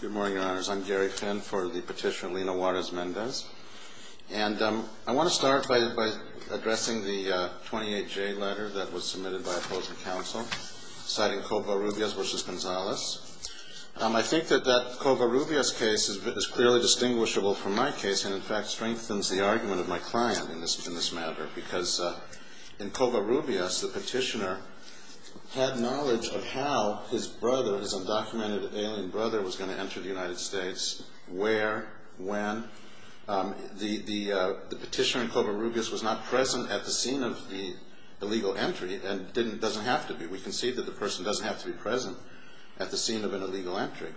Good morning, Your Honors. I'm Gary Finn for the petitioner Lina Juarez-Mendez. And I want to start by addressing the 28-J letter that was submitted by opposing counsel, citing Covarrubias v. Gonzales. I think that that Covarrubias case is clearly distinguishable from my case and, in fact, strengthens the argument of my client in this matter, because in Covarrubias, the petitioner had knowledge of how his brother, his undocumented alien brother, was going to enter the United States, where, when. The petitioner in Covarrubias was not present at the scene of the illegal entry and doesn't have to be. We can see that the person doesn't have to be present at the scene of an illegal entry.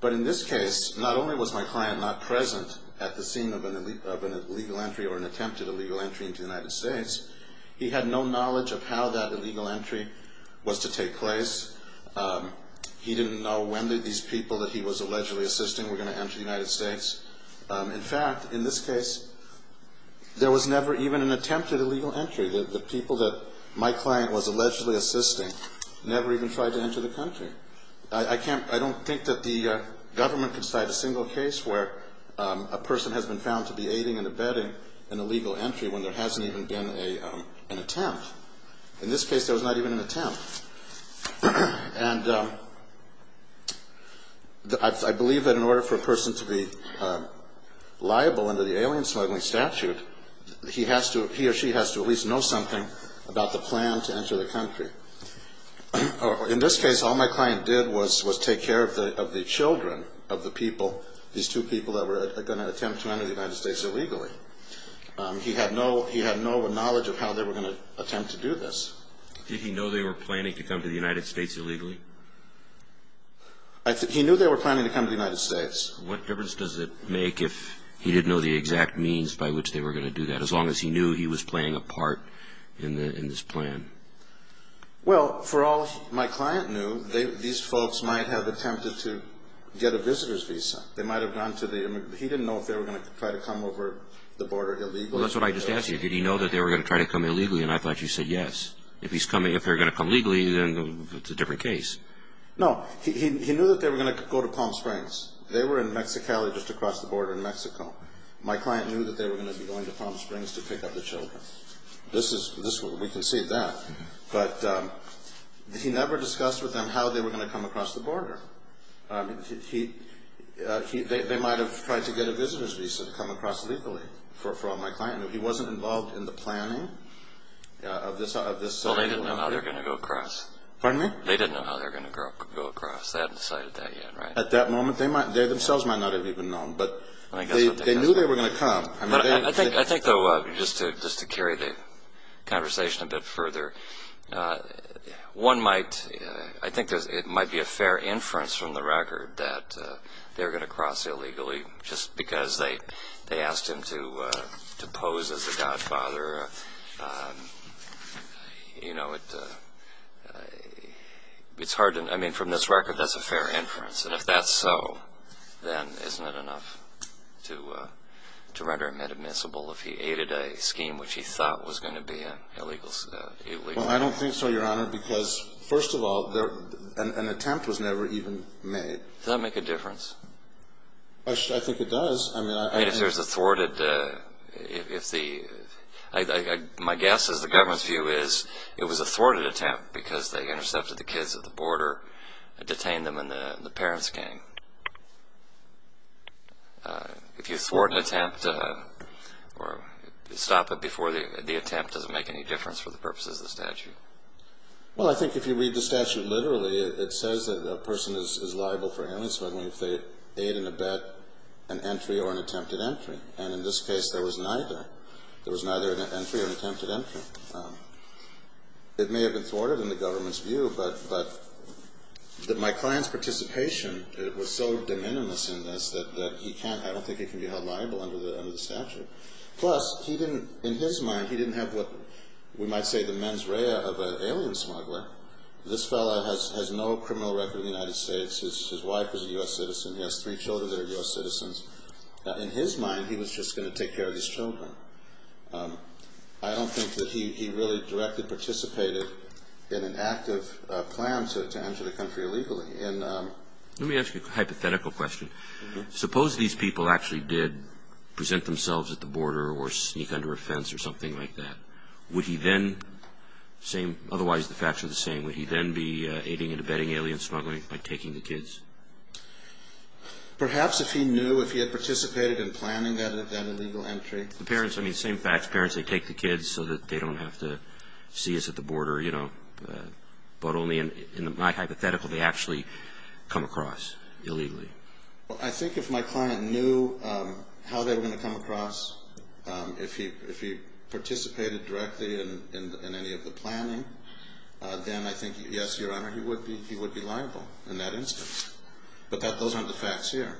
But in this case, not only was my client not present at the scene of an illegal entry or an attempted illegal entry into the United States, he had no knowledge of how that illegal entry was to take place. He didn't know when these people that he was allegedly assisting were going to enter the United States. In fact, in this case, there was never even an attempted illegal entry. The people that my client was allegedly assisting never even tried to enter the country. I can't, I don't think that the government can cite a single case where a person has been found to be aiding and abetting an illegal entry when there hasn't even been an attempt. In this case, there was not even an attempt. And I believe that in order for a person to be liable under the alien smuggling statute, he has to, he or she has to at least know something about the plan to enter the country. In this case, all my client did was take care of the children of the people, these two people that were going to attempt to enter the United States illegally. He had no knowledge of how they were going to attempt to do this. Did he know they were planning to come to the United States illegally? He knew they were planning to come to the United States. What difference does it make if he didn't know the exact means by which they were going to do that, as long as he knew he was playing a part in this plan? Well, for all my client knew, these folks might have attempted to get a visitor's visa. They might have gone to the, he didn't know if they were going to try to come over the border illegally. Well, that's what I just asked you. Did he know that they were going to try to come illegally? And I thought you said yes. If he's coming, if they're going to come legally, then it's a different case. No. He knew that they were going to go to Palm Springs. They were in Mexicali just across the border in Mexico. My client knew that they were going to be going to Palm Springs to pick up the children. This is, we can see that. But he never discussed with them how they were going to come across the border. They might have tried to get a visitor's visa to come across legally for all my client knew. He wasn't involved in the planning of this. Well, they didn't know how they were going to go across. Pardon me? They didn't know how they were going to go across. They hadn't decided that yet, right? At that moment, they themselves might not have even known. But they knew they were going to come. I think, though, just to carry the conversation a bit further, one might, I think it might be a fair inference from the record that they're going to cross illegally just because they asked him to pose as a godfather. You know, it's hard to, I mean, from this record, that's a fair inference. And if that's so, then isn't it enough to render him inadmissible if he aided a scheme which he thought was going to be illegal? Well, I don't think so, Your Honor, because, first of all, an attempt was never even made. Does that make a difference? I think it does. I mean, if there's a thwarted, if the, my guess is the government's view is it was a thwarted attempt because they intercepted the kids at the border, detained them, and the parents came. If you thwart an attempt or stop it before the attempt, does it make any difference for the purposes of the statute? Well, I think if you read the statute literally, it says that a person is liable for inalienable if they aid and abet an entry or an attempted entry. And in this case, there was neither. There was neither an entry or an attempted entry. It may have been thwarted in the government's view, but my client's participation was so de minimis in this that he can't, I don't think he can be held liable under the statute. Plus, he didn't, in his mind, he didn't have what we might say the mens rea of an alien smuggler. This fellow has no criminal record in the United States. His wife is a U.S. citizen. He has three children that are U.S. citizens. In his mind, he was just going to take care of these children. I don't think that he really directly participated in an active plan to enter the country illegally. Let me ask you a hypothetical question. Suppose these people actually did present themselves at the border or sneak under a fence or something like that. Would he then, same, otherwise the facts are the same, would he then be aiding and abetting alien smuggling by taking the kids? Perhaps if he knew, if he had participated in planning that illegal entry. The parents, I mean, same facts. Parents, they take the kids so that they don't have to see us at the border, you know. But only in my hypothetical, they actually come across illegally. Well, I think if my client knew how they were going to come across, if he participated directly in any of the planning, then I think, yes, Your Honor, he would be liable in that instance. But those aren't the facts here.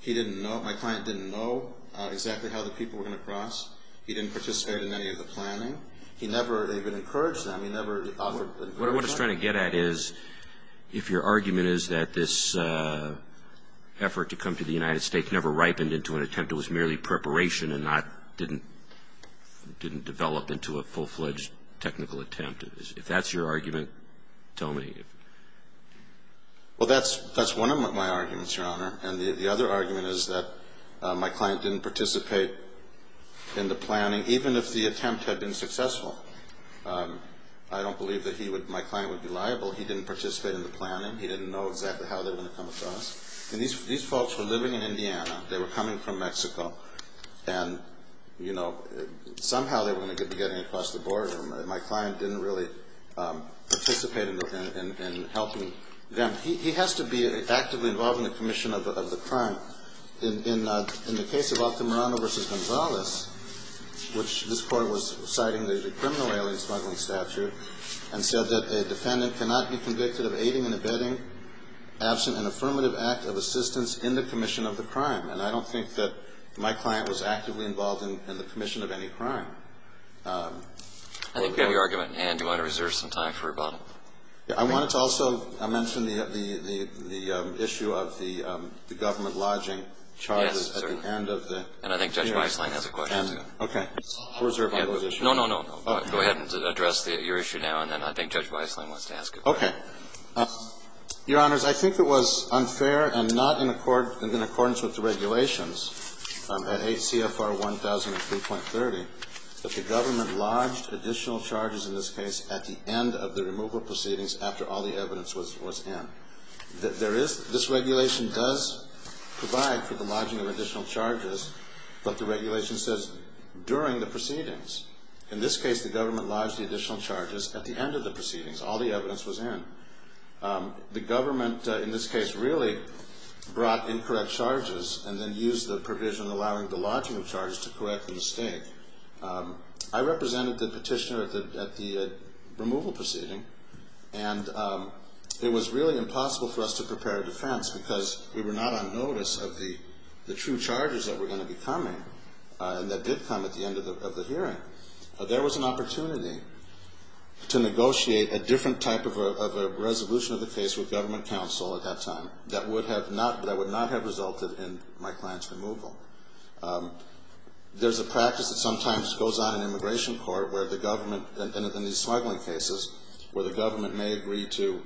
He didn't know. My client didn't know exactly how the people were going to cross. He didn't participate in any of the planning. He never even encouraged them. He never offered them. What I'm trying to get at is if your argument is that this effort to come to the United States never ripened into an attempt. It was merely preparation and not, didn't develop into a full-fledged technical attempt. If that's your argument, tell me. Well, that's one of my arguments, Your Honor. And the other argument is that my client didn't participate in the planning, even if the attempt had been successful. I don't believe that my client would be liable. He didn't participate in the planning. He didn't know exactly how they were going to come across. And these folks were living in Indiana. They were coming from Mexico. And, you know, somehow they were going to be getting across the border. My client didn't really participate in helping them. He has to be actively involved in the commission of the crime. In the case of Altamirano v. Gonzalez, which this court was citing the criminal alien smuggling statute, and said that a defendant cannot be convicted of aiding and abetting absent an affirmative act of assistance in the commission of the crime. And I don't think that my client was actively involved in the commission of any crime. I think we have your argument. And do you want to reserve some time for rebuttal? I wanted to also mention the issue of the government lodging charges at the end of the hearing. Yes, certainly. And I think Judge Weisslein has a question. Okay. I'll reserve my position. No, no, no. Go ahead and address your issue now, and then I think Judge Weisslein wants to ask a question. Okay. Your Honors, I think it was unfair and not in accordance with the regulations at ACFR 1003.30 that the government lodged additional charges in this case at the end of the removal proceedings after all the evidence was in. This regulation does provide for the lodging of additional charges, but the regulation says during the proceedings. In this case, the government lodged the additional charges at the end of the proceedings. All the evidence was in. The government, in this case, really brought incorrect charges and then used the provision allowing the lodging of charges to correct the mistake. I represented the petitioner at the removal proceeding, and it was really impossible for us to prepare a defense because we were not on notice of the true charges that were going to be coming and that did come at the end of the hearing. There was an opportunity to negotiate a different type of a resolution of the case with government counsel at that time that would not have resulted in my client's removal. There's a practice that sometimes goes on in immigration court where the government, in these smuggling cases, where the government may agree to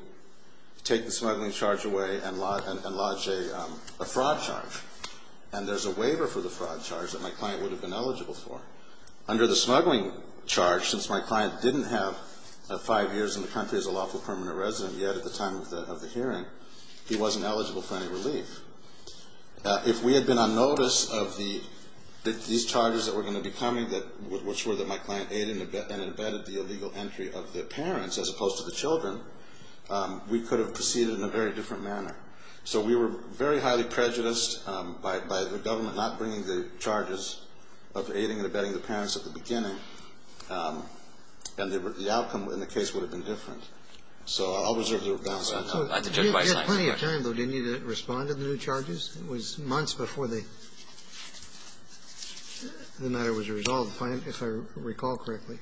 take the smuggling charge away and lodge a fraud charge, and there's a waiver for the fraud charge that my client would have been eligible for. Under the smuggling charge, since my client didn't have five years in the country as a lawful permanent resident yet at the time of the hearing, he wasn't eligible for any relief. If we had been on notice of these charges that were going to be coming, which were that my client aided and abetted the illegal entry of the parents as opposed to the children, we could have proceeded in a very different manner. So we were very highly prejudiced by the government not bringing the charges of aiding and abetting the parents at the beginning, and the outcome in the case would have been different. So I'll reserve the balance of my time. Roberts. So you had plenty of time, though, didn't you, to respond to the new charges? It was months before the matter was resolved, if I recall correctly.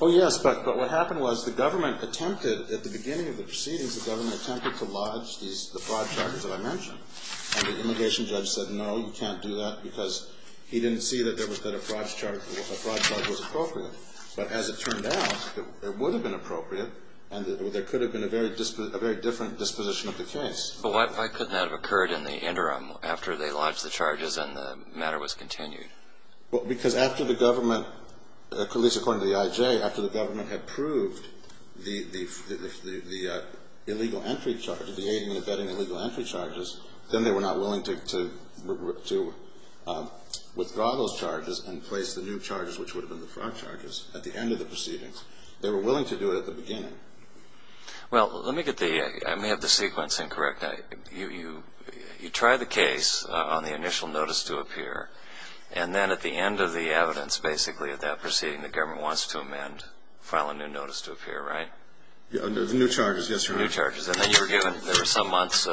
Oh, yes. But what happened was the government attempted at the beginning of the proceedings, the government attempted to lodge the fraud charges that I mentioned. And the immigration judge said, no, you can't do that, because he didn't see that a fraud charge was appropriate. But as it turned out, it would have been appropriate, and there could have been a very different disposition of the case. But why couldn't that have occurred in the interim after they lodged the charges and the matter was continued? Because after the government, at least according to the IJ, after the government had proved the illegal entry charges, the aiding and abetting illegal entry charges, then they were not willing to withdraw those charges and place the new charges, which would have been the fraud charges, at the end of the proceedings. They were willing to do it at the beginning. Well, let me get the ‑‑ I may have the sequence incorrect. You tried the case on the initial notice to appear, and then at the end of the evidence, basically, at that proceeding, the government wants to amend, file a new notice to appear, right? The new charges, yes, Your Honor. New charges. And then you were given, there were some months in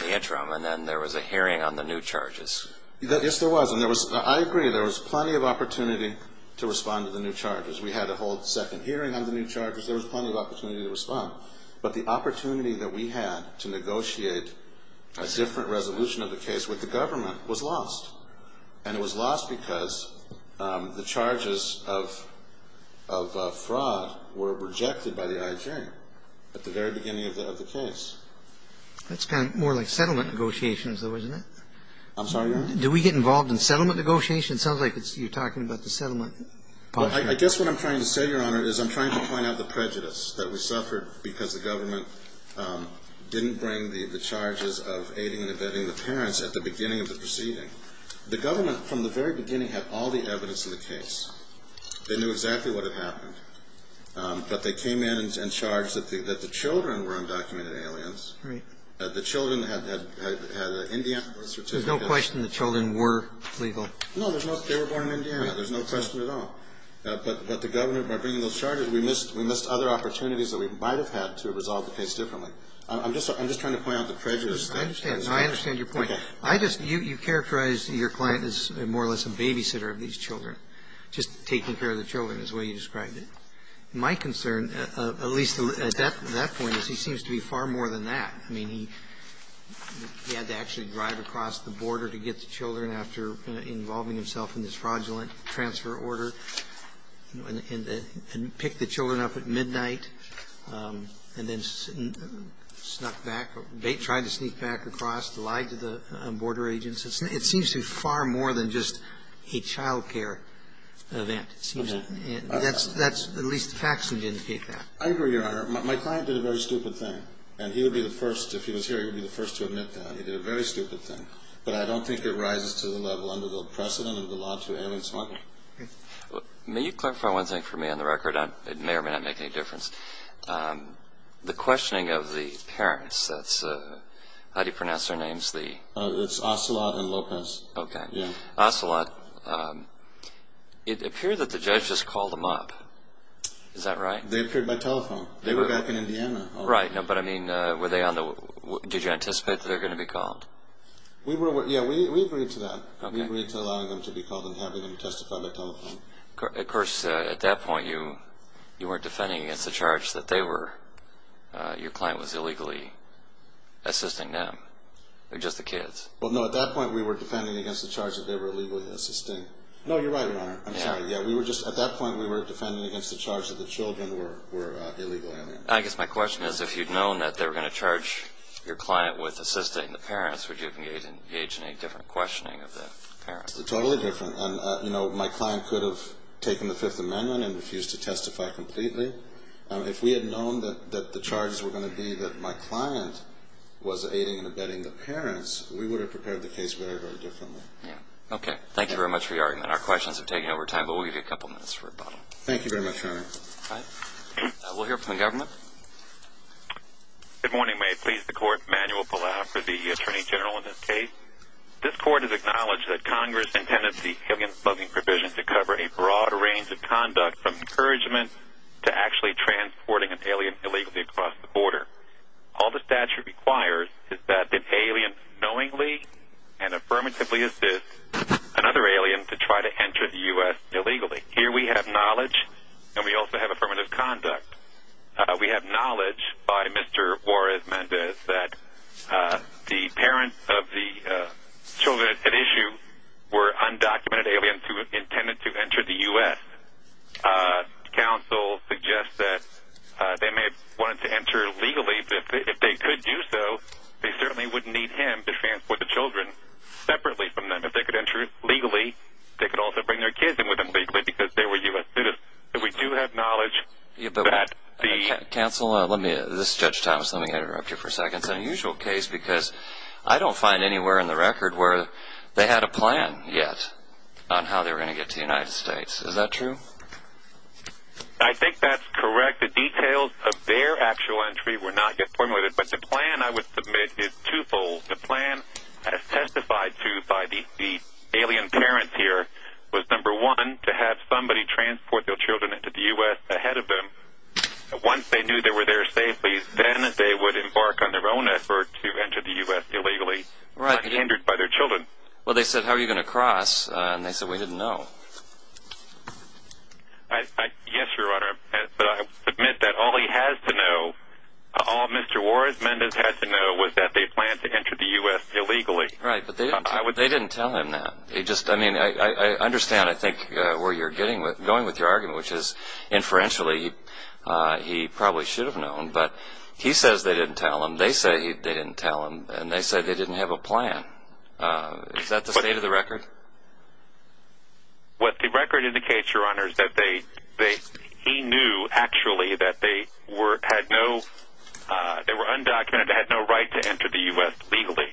the interim, and then there was a hearing on the new charges. Yes, there was. And there was, I agree, there was plenty of opportunity to respond to the new charges. We had a whole second hearing on the new charges. There was plenty of opportunity to respond. But the opportunity that we had to negotiate a different resolution of the case with the government was lost. And it was lost because the charges of fraud were rejected by the I.H.A. at the very beginning of the case. That's kind of more like settlement negotiations, though, isn't it? I'm sorry, Your Honor? Do we get involved in settlement negotiations? It sounds like you're talking about the settlement policy. Well, I guess what I'm trying to say, Your Honor, is I'm trying to point out the prejudice that we suffered because the government didn't bring the charges of aiding and abetting the parents at the beginning of the proceeding. The government, from the very beginning, had all the evidence in the case. They knew exactly what had happened. But they came in and charged that the children were undocumented aliens. Right. The children had Indian birth certificates. There's no question the children were illegal. No, they were born in Indiana. There's no question at all. But the government, by bringing those charges, we missed other opportunities that we might have had to have resolved the case differently. I'm just trying to point out the prejudice. I understand. I understand your point. Okay. You characterized your client as more or less a babysitter of these children, just taking care of the children is the way you described it. My concern, at least at that point, is he seems to be far more than that. I mean, he had to actually drive across the border to get the children after involving himself in this fraudulent transfer order and pick the children up at midnight and then snuck back, tried to sneak back across, lied to the border agents. It seems to be far more than just a child care event. It seems that's at least the facts that indicate that. I agree, Your Honor. My client did a very stupid thing. And he would be the first, if he was here, he would be the first to admit that. He did a very stupid thing. But I don't think it rises to the level under the precedent of the law to alien smuggling. May you clarify one thing for me on the record? It may or may not make any difference. The questioning of the parents, how do you pronounce their names? It's Ocelot and Lopez. Okay. Ocelot, it appeared that the judge just called them up. Is that right? They appeared by telephone. They were back in Indiana. Right. But, I mean, did you anticipate that they were going to be called? Yeah, we agreed to that. We agreed to allowing them to be called and having them testify by telephone. Of course, at that point you weren't defending against the charge that they were, your client was illegally assisting them, just the kids. Well, no, at that point we were defending against the charge that they were illegally assisting. No, you're right, Your Honor. I'm sorry. At that point we were defending against the charge that the children were illegal aliens. I guess my question is if you'd known that they were going to charge your client with assisting the parents, would you have engaged in a different questioning of the parents? Totally different. And, you know, my client could have taken the Fifth Amendment and refused to testify completely. If we had known that the charges were going to be that my client was aiding and abetting the parents, we would have prepared the case very, very differently. Yeah. Okay. Thank you very much for your argument. Our questions have taken over time, but we'll give you a couple minutes for rebuttal. Thank you very much, Your Honor. All right. We'll hear from the government. Good morning. May it please the Court. Manuel Palau for the Attorney General in this case. This Court has acknowledged that Congress intended the alien smuggling provision to cover a broad range of conduct, from encouragement to actually transporting an alien illegally across the border. All the statute requires is that the alien knowingly and affirmatively assist another alien to try to enter the U.S. illegally. Here we have knowledge, and we also have affirmative conduct. We have knowledge by Mr. Juarez Mendez that the parents of the children at issue were undocumented aliens who intended to enter the U.S. Counsel suggests that they may have wanted to enter legally, but if they could do so, they certainly wouldn't need him to transport the children separately from them. If they could enter legally, they could also bring their kids in with them legally because they were U.S. students. We do have knowledge that the... Counsel, this is Judge Thomas. Let me interrupt you for a second. It's an unusual case because I don't find anywhere in the record where they had a plan yet on how they were going to get to the United States. Is that true? I think that's correct. The details of their actual entry were not yet formulated, but the plan, I would submit, is twofold. The plan, as testified to by the alien parents here, was, number one, to have somebody transport their children into the U.S. ahead of them. Once they knew they were there safely, then they would embark on their own effort to enter the U.S. illegally, not hindered by their children. Well, they said, how are you going to cross? And they said, we didn't know. Yes, Your Honor. But I submit that all he has to know, all Mr. Warren Mendez has to know, was that they planned to enter the U.S. illegally. Right, but they didn't tell him that. I mean, I understand, I think, where you're going with your argument, which is, inferentially, he probably should have known. But he says they didn't tell him, they say they didn't tell him, and they say they didn't have a plan. Is that the state of the record? What the record indicates, Your Honor, is that he knew, actually, that they were undocumented, they had no right to enter the U.S. legally.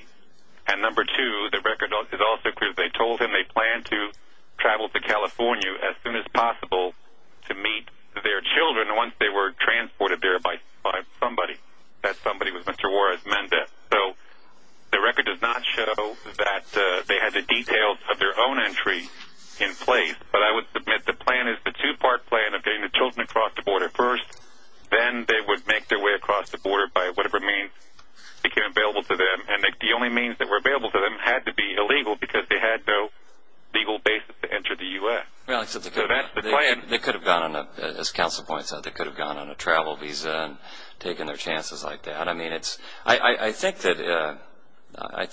And, number two, the record is also clear. They told him they planned to travel to California as soon as possible to meet their children once they were transported there by somebody. That somebody was Mr. Warren Mendez. So the record does not show that they had the details of their own entry in place, but I would submit the plan is the two-part plan of getting the children across the border first, then they would make their way across the border by whatever means became available to them. And the only means that were available to them had to be illegal because they had no legal basis to enter the U.S. So that's the plan. They could have gone on a, as Counsel points out, they could have gone on a travel visa and taken their chances like that. I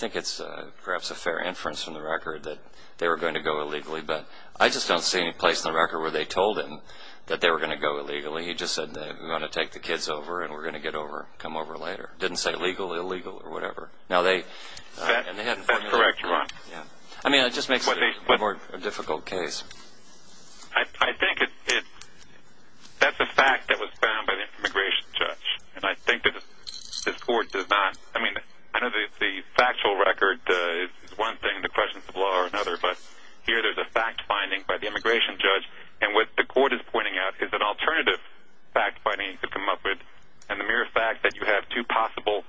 think it's perhaps a fair inference from the record that they were going to go illegally, but I just don't see any place in the record where they told him that they were going to go illegally. He just said, we're going to take the kids over and we're going to come over later. He didn't say legal or illegal or whatever. That's correct, Your Honor. I mean, it just makes it a more difficult case. I think that's a fact that was found by the immigration judge. And I think that this Court does not, I mean, I know the factual record is one thing, the questions of law are another, but here there's a fact finding by the immigration judge. And what the Court is pointing out is an alternative fact finding to come up with. And the mere fact that you have two possible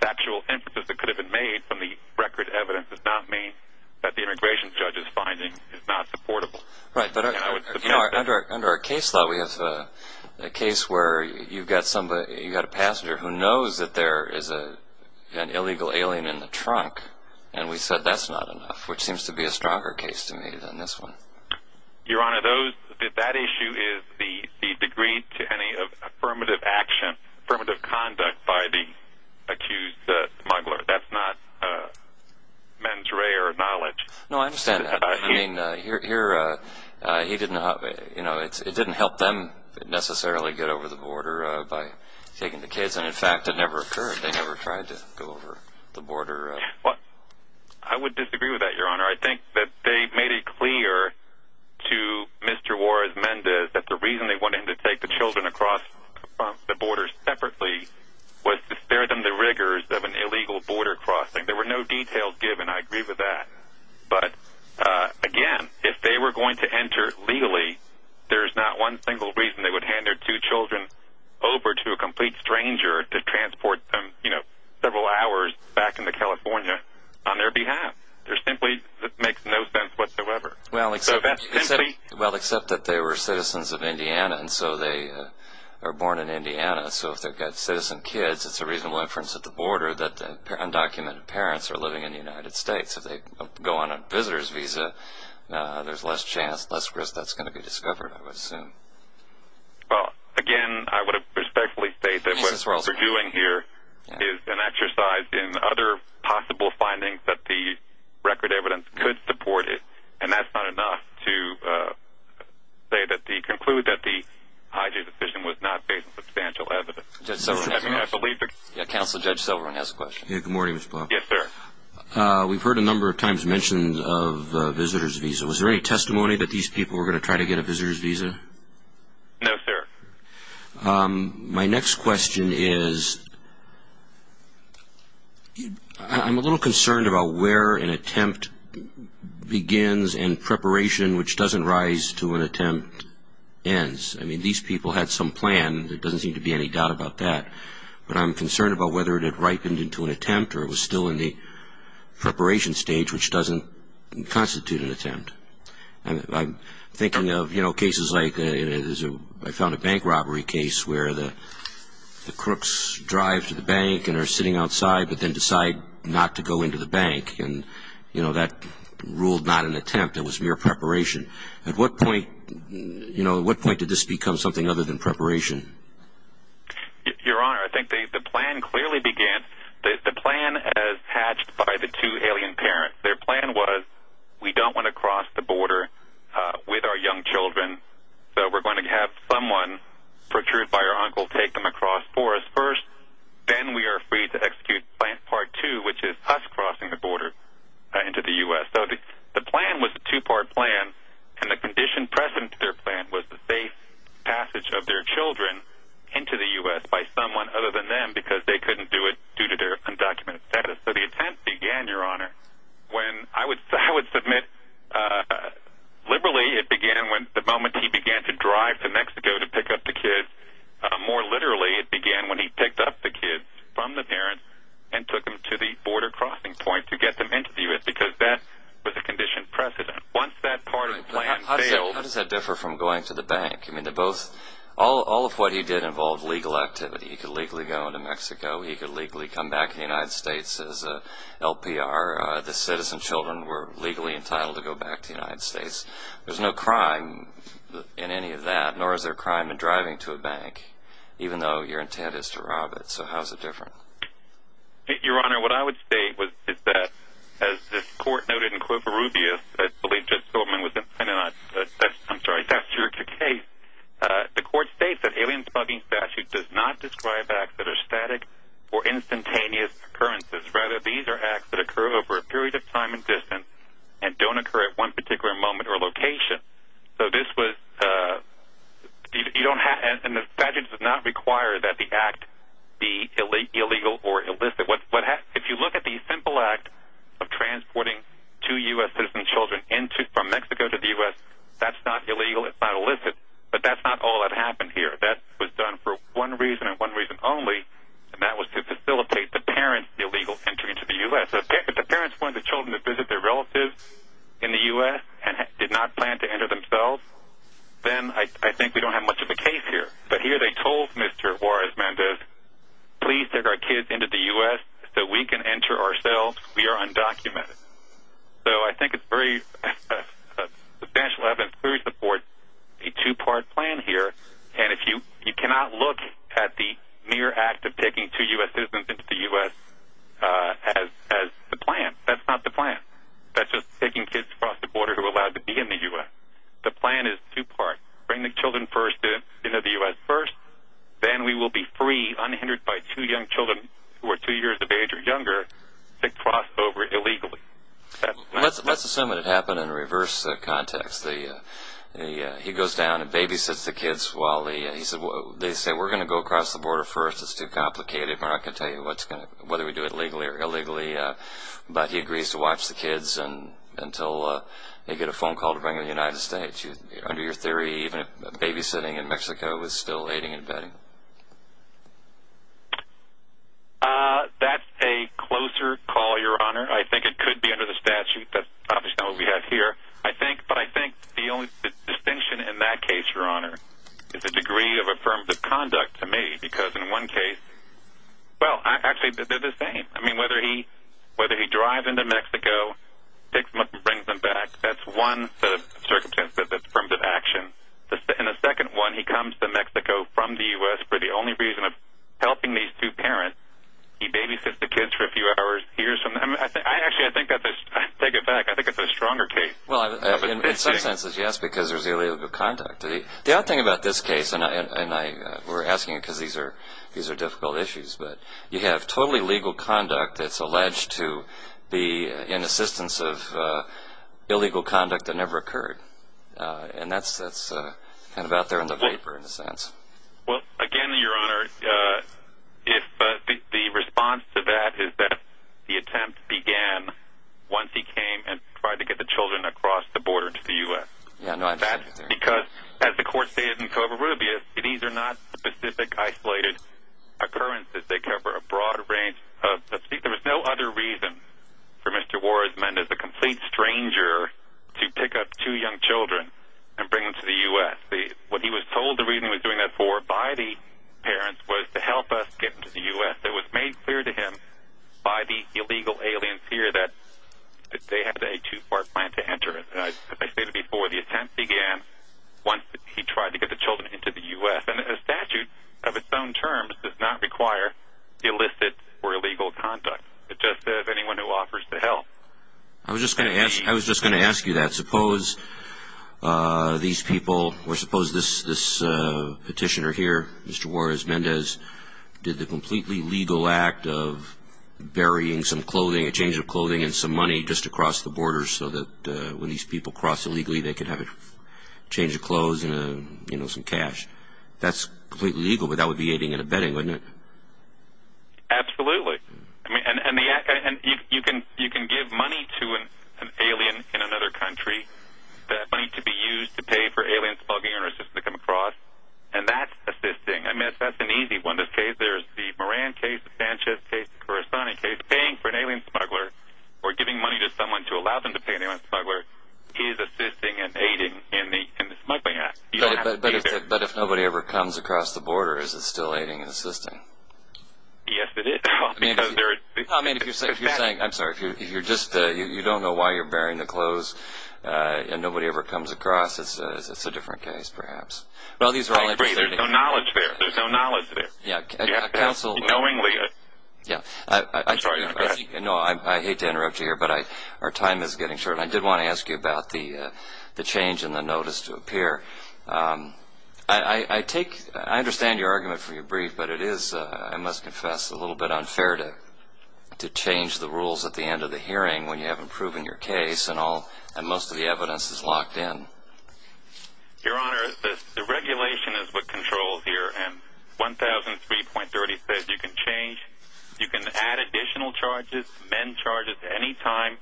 factual inferences that could have been made from the record evidence does not mean that the immigration judge's finding is not supportable. Right, but under our case law we have a case where you've got a passenger who knows that there is an illegal alien in the trunk, and we said that's not enough, which seems to be a stronger case to me than this one. Your Honor, that issue is the degree to any affirmative action, affirmative conduct by the accused smuggler. That's not mens rea or knowledge. No, I understand that. I mean, it didn't help them necessarily get over the border by taking the kids, and in fact it never occurred, they never tried to go over the border. I would disagree with that, Your Honor. I think that they made it clear to Mr. Juarez-Mendez that the reason they wanted him to take the children across the border separately was to spare them the rigors of an illegal border crossing. There were no details given, I agree with that. But again, if they were going to enter legally, there's not one single reason they would hand their two children over to a complete stranger to transport them several hours back into California on their behalf. There simply makes no sense whatsoever. Well, except that they were citizens of Indiana, and so they were born in Indiana. So if they've got citizen kids, it's a reasonable inference at the border that the undocumented parents are living in the United States if they go on a visitor's visa, there's less chance, less risk that's going to be discovered, I would assume. Well, again, I would have respectfully stated that what we're doing here is an exercise in other possible findings that the record evidence could support, and that's not enough to conclude that the hijack decision was not based on substantial evidence. Judge Silverman has a question. Counsel Judge Silverman has a question. Good morning, Mr. Block. Yes, sir. We've heard a number of times mentions of a visitor's visa. Was there any testimony that these people were going to try to get a visitor's visa? No, sir. My next question is I'm a little concerned about where an attempt begins and preparation, which doesn't rise to an attempt, ends. I mean, these people had some plan. There doesn't seem to be any doubt about that. But I'm concerned about whether it had ripened into an attempt or it was still in the preparation stage, which doesn't constitute an attempt. I'm thinking of, you know, cases like I found a bank robbery case where the crooks drive to the bank and are sitting outside but then decide not to go into the bank, and, you know, that ruled not an attempt. It was mere preparation. At what point, you know, at what point did this become something other than preparation? Your Honor, I think the plan clearly began. The plan, as hatched by the two alien parents, their plan was we don't want to cross the border with our young children, so we're going to have someone, protruded by our uncle, take them across for us first. Then we are free to execute Plan Part 2, which is us crossing the border into the U.S. So the plan was a two-part plan, and the condition present to their plan was the safe passage of their children into the U.S. by someone other than them because they couldn't do it due to their undocumented status. So the attempt began, Your Honor, when I would submit liberally it began the moment he began to drive to Mexico to pick up the kids. More literally, it began when he picked up the kids from the parents and took them to the border crossing point to get them into the U.S. because that was the condition present. Once that part of the plan failed... How does that differ from going to the bank? I mean, all of what he did involved legal activity. He could legally go into Mexico. He could legally come back to the United States as an LPR. The citizen children were legally entitled to go back to the United States. There's no crime in any of that, nor is there a crime in driving to a bank, even though your intent is to rob it. So how is it different? Your Honor, what I would state is that, as the court noted in Clover Rubio's... I'm sorry, that's your case. The court states that alien smuggling statute does not describe acts that are static or instantaneous occurrences. Rather, these are acts that occur over a period of time and distance and don't occur at one particular moment or location. So this was... And the statute does not require that the act be illegal or illicit. If you look at the simple act of transporting two U.S. citizen children from Mexico to the U.S., that's not illegal. It's not illicit. But that's not all that happened here. That was done for one reason and one reason only, and that was to facilitate the parents' illegal entry into the U.S. If the parents wanted the children to visit their relatives in the U.S. and did not plan to enter themselves, then I think we don't have much of a case here. But here they told Mr. Juarez-Mendez, please take our kids into the U.S. so we can enter ourselves. We are undocumented. So I think it's very substantial. We support a two-part plan here. And you cannot look at the mere act of taking two U.S. citizens into the U.S. as the plan. That's not the plan. That's just taking kids across the border who are allowed to be in the U.S. The plan is two-part. Bring the children first into the U.S. first. Then we will be free, unhindered by two young children who are two years of age or younger to cross over illegally. Let's assume it happened in a reverse context. He goes down and babysits the kids while they say, we're going to go across the border first. It's too complicated. We're not going to tell you whether we do it legally or illegally. But he agrees to watch the kids until they get a phone call to bring them to the United States. Under your theory, even babysitting in Mexico is still aiding and abetting. That's a closer call, Your Honor. I think it could be under the statute. That's obviously not what we have here. But I think the only distinction in that case, Your Honor, is the degree of affirmative conduct to me. Because in one case, well, actually, they're the same. I mean, whether he drives into Mexico, picks them up and brings them back, that's one circumstance that's affirmative action. In the second one, he comes to Mexico from the U.S. for the only reason of helping these two parents. He babysits the kids for a few hours. Actually, I take it back. I think it's a stronger case. Well, in some senses, yes, because there's illegal conduct. The other thing about this case, and we're asking it because these are difficult issues, but you have totally legal conduct that's alleged to be in assistance of illegal conduct that never occurred. And that's kind of out there in the vapor, in a sense. Well, again, Your Honor, the response to that is that the attempt began once he came and tried to get the children across the border to the U.S. Because, as the court stated in Covarrubias, these are not specific isolated occurrences. They cover a broad range. There was no other reason for Mr. Warsman, as a complete stranger, to pick up two young children and bring them to the U.S. What he was told the reason he was doing that for, by the parents, was to help us get to the U.S. It was made clear to him, by the illegal aliens here, that they had a too far plan to enter. As I stated before, the attempt began once he tried to get the children into the U.S. And a statute of its own terms does not require illicit or illegal conduct. It's just that if anyone who offers to help... I was just going to ask you that. Suppose these people, or suppose this petitioner here, Mr. Juarez Mendez, did the completely legal act of burying some clothing, a change of clothing, and some money just across the border so that when these people cross illegally they could have a change of clothes and some cash. That's completely legal, but that would be aiding and abetting, wouldn't it? Absolutely. And you can give money to an alien in another country, money to be used to pay for alien smuggling or assistance to come across, and that's assisting. I mean, if that's an easy one, in this case, there's the Moran case, the Sanchez case, the Corazoni case. Paying for an alien smuggler or giving money to someone to allow them to pay an alien smuggler is assisting and aiding in the Smuggling Act. But if nobody ever comes across the border, is it still aiding and assisting? Yes, it is. I mean, if you're saying, I'm sorry, if you're just, you don't know why you're burying the clothes and nobody ever comes across, it's a different case perhaps. Well, these are all interesting. There's no knowledge there. There's no knowledge there. Counsel. Knowingly. Yeah. I'm sorry. No, I hate to interrupt you here, but our time is getting short. I did want to ask you about the change in the notice to appear. I take, I understand your argument for your brief, but it is, I must confess, a little bit unfair to change the rules at the end of the hearing when you haven't proven your case and most of the evidence is locked in. Your Honor, the regulation is what controls here, and 1003.30 says you can change, you can add additional charges, amend charges any time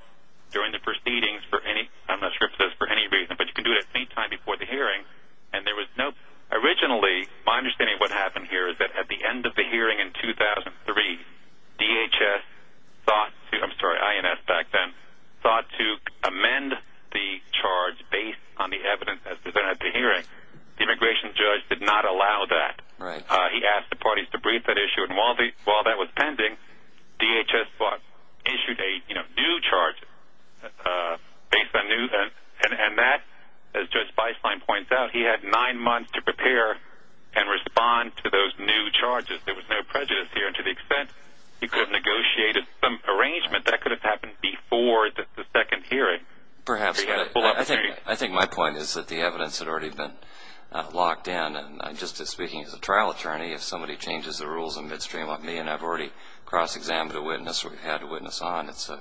during the proceedings for any, I'm not sure if it says for any reason, but you can do it at any time before the hearing, and there was no, originally, my understanding of what happened here is that at the end of the hearing in 2003, DHS thought, I'm sorry, INS back then, thought to amend the charge based on the evidence presented at the hearing. The immigration judge did not allow that. Right. He asked the parties to brief that issue, and while that was pending, DHS thought, issued a new charge based on new evidence, and that, as Judge Feistlein points out, he had nine months to prepare and respond to those new charges. There was no prejudice here to the extent he could have negotiated some arrangement that could have happened before the second hearing. Perhaps, but I think my point is that the evidence had already been locked in, and just speaking as a trial attorney, if somebody changes the rules in midstream on me and I've already cross-examined a witness or had a witness on, it's a,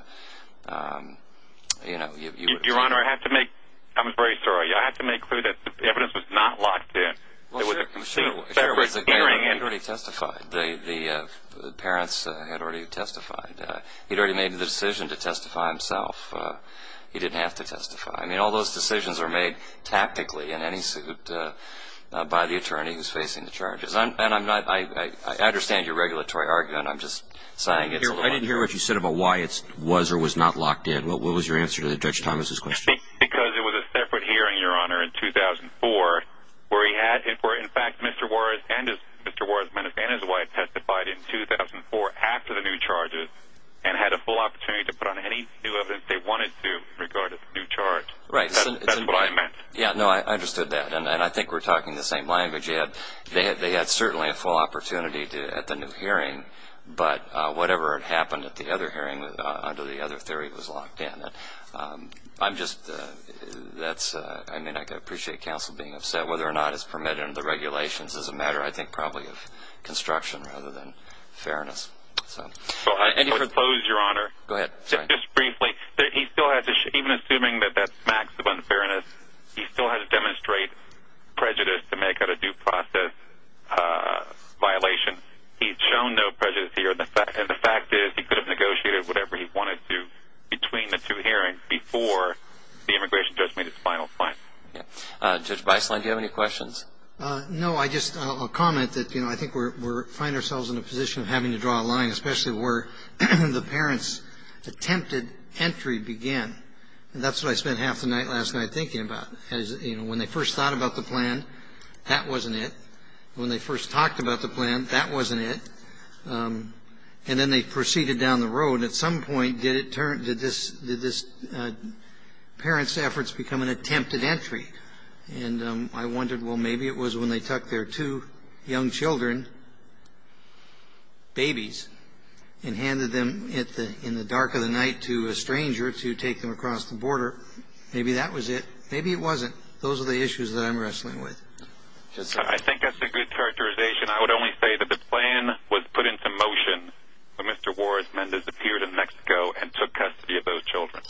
you know, you would see. Your Honor, I have to make, I'm very sorry, I have to make clear that the evidence was not locked in. Well, sir, the parents had already testified. He'd already made the decision to testify himself. He didn't have to testify. I mean, all those decisions are made tactically in any suit by the attorney who's facing the charges. And I'm not, I understand your regulatory argument. I'm just saying it's not. I didn't hear what you said about why it was or was not locked in. What was your answer to Judge Thomas' question? Because it was a separate hearing, Your Honor, in 2004 where he had, where in fact Mr. Juarez and his wife testified in 2004 after the new charges and had a full opportunity to put on any new evidence they wanted to in regard to the new charge. Right. That's what I meant. Yeah, no, I understood that, and I think we're talking the same language. They had certainly a full opportunity at the new hearing, but whatever had happened at the other hearing under the other theory was locked in. I'm just, that's, I mean, I can appreciate counsel being upset. Whether or not it's permitted under the regulations is a matter, I think, probably of construction rather than fairness. So I suppose, Your Honor. Go ahead. Just briefly, he still has, even assuming that that's maximum fairness, he still has to demonstrate prejudice to make out a due process violation. He's shown no prejudice here, and the fact is he could have negotiated whatever he wanted to between the two hearings before the immigration judge made his final point. Yeah. Judge Beisling, do you have any questions? No, I just, I'll comment that, you know, I think we're finding ourselves in a position of having to draw a line, especially where the parents' attempted entry began. And that's what I spent half the night last night thinking about. You know, when they first thought about the plan, that wasn't it. When they first talked about the plan, that wasn't it. And then they proceeded down the road. At some point, did this parent's efforts become an attempted entry? And I wondered, well, maybe it was when they took their two young children, babies, and handed them in the dark of the night to a stranger to take them across the border. Maybe that was it. Maybe it wasn't. Those are the issues that I'm wrestling with. I think that's a good characterization. I would only say that the plan was put into motion when Mr. Juarez Mendez appeared in Mexico and took custody of those children.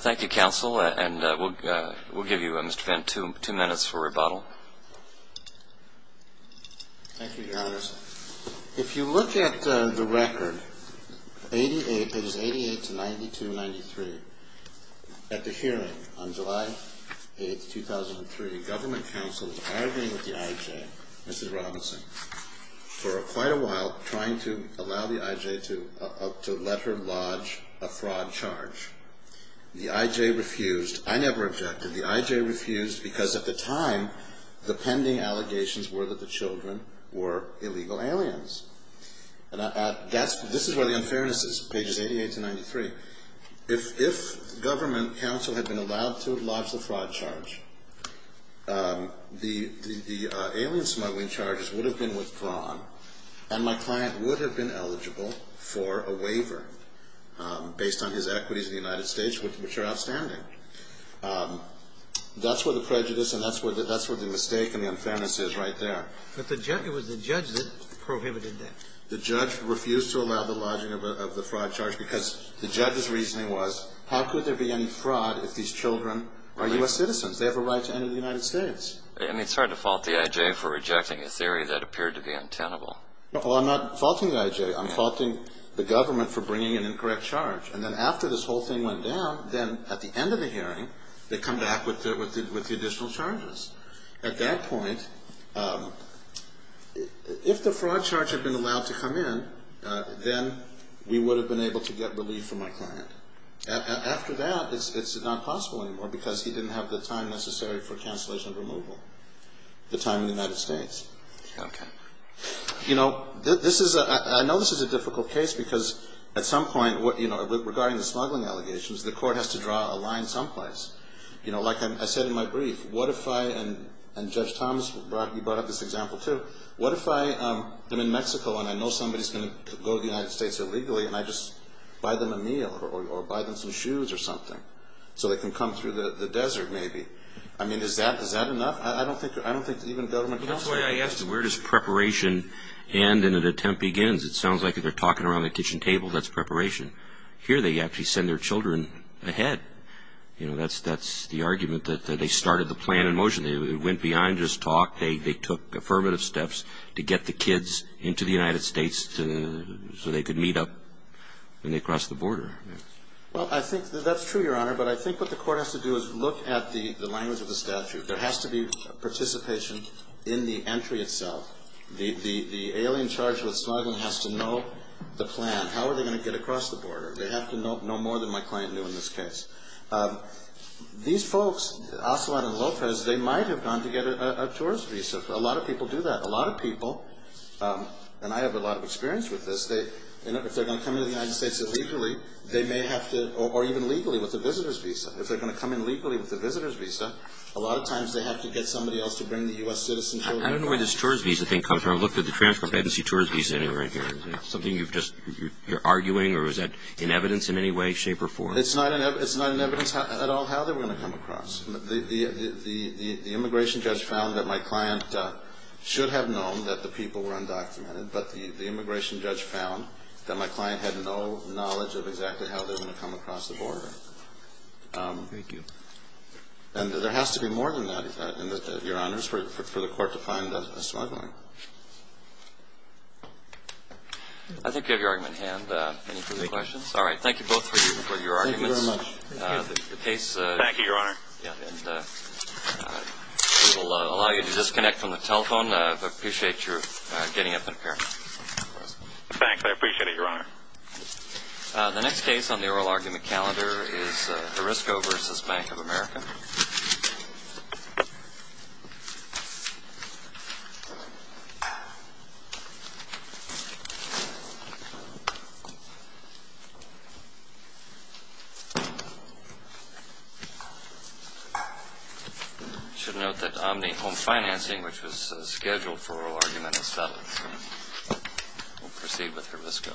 Thank you, counsel. And we'll give you, Mr. Fenn, two minutes for rebuttal. Thank you, Your Honors. If you look at the record, it is 88-92-93. At the hearing on July 8, 2003, government counsel was arguing with the I.J., Mrs. Robinson, for quite a while, trying to allow the I.J. to let her lodge a fraud charge. The I.J. refused. I never objected. The I.J. refused because, at the time, the pending allegations were that the children were illegal aliens. This is where the unfairness is, pages 88-93. If government counsel had been allowed to lodge the fraud charge, the alien smuggling charges would have been withdrawn, and my client would have been eligible for a waiver based on his equities in the United States, which are outstanding. That's where the prejudice and that's where the mistake and the unfairness is right there. But it was the judge that prohibited that. The judge refused to allow the lodging of the fraud charge because the judge's reasoning was, how could there be any fraud if these children are U.S. citizens? They have a right to enter the United States. I mean, it's hard to fault the I.J. for rejecting a theory that appeared to be untenable. Well, I'm not faulting the I.J. I'm faulting the government for bringing an incorrect charge. And then after this whole thing went down, then at the end of the hearing, they come back with the additional charges. At that point, if the fraud charge had been allowed to come in, then we would have been able to get relief from my client. After that, it's not possible anymore because he didn't have the time necessary for cancellation and removal, the time in the United States. Okay. You know, this is a ñ I know this is a difficult case because at some point, you know, regarding the smuggling allegations, the court has to draw a line someplace. You know, like I said in my brief, what if I ñ and Judge Thomas, you brought up this example too. What if I am in Mexico and I know somebody's going to go to the United States illegally and I just buy them a meal or buy them some shoes or something so they can come through the desert maybe? I mean, is that enough? I don't think even government counsel would do that. Well, that's why I asked, where does preparation end and an attempt begins? It sounds like they're talking around the kitchen table. That's preparation. Here they actually send their children ahead. You know, that's the argument that they started the plan in motion. They went beyond just talk. They took affirmative steps to get the kids into the United States so they could meet up when they cross the border. Well, I think that's true, Your Honor, but I think what the court has to do is look at the language of the statute. There has to be participation in the entry itself. The alien charged with smuggling has to know the plan. How are they going to get across the border? They have to know more than my client knew in this case. These folks, Ocelot and Lopez, they might have gone to get a tourist visa. A lot of people do that. A lot of people, and I have a lot of experience with this, if they're going to come into the United States illegally, they may have to ñ or even legally with a visitor's visa. If they're going to come in legally with a visitor's visa, a lot of times they have to get somebody else to bring the U.S. citizen. I don't know where this tourist visa thing comes from. I looked at the transcript. I didn't see tourist visa anywhere in here. Is that something you're arguing, or is that in evidence in any way, shape, or form? It's not in evidence at all how they were going to come across. The immigration judge found that my client should have known that the people were undocumented, but the immigration judge found that my client had no knowledge of exactly how they were going to come across the border. Thank you. And there has to be more than that, Your Honors, for the court to find a smuggling. I think you have your argument in hand. Any further questions? All right. Thank you both for your arguments. Thank you very much. Thank you, Your Honor. And we will allow you to disconnect from the telephone. I appreciate your getting up and appearing. Thanks. I appreciate it, Your Honor. The next case on the oral argument calendar is Arisco v. Bank of America. You should note that Omni Home Financing, which was scheduled for oral argument, has settled. We'll proceed with Arisco.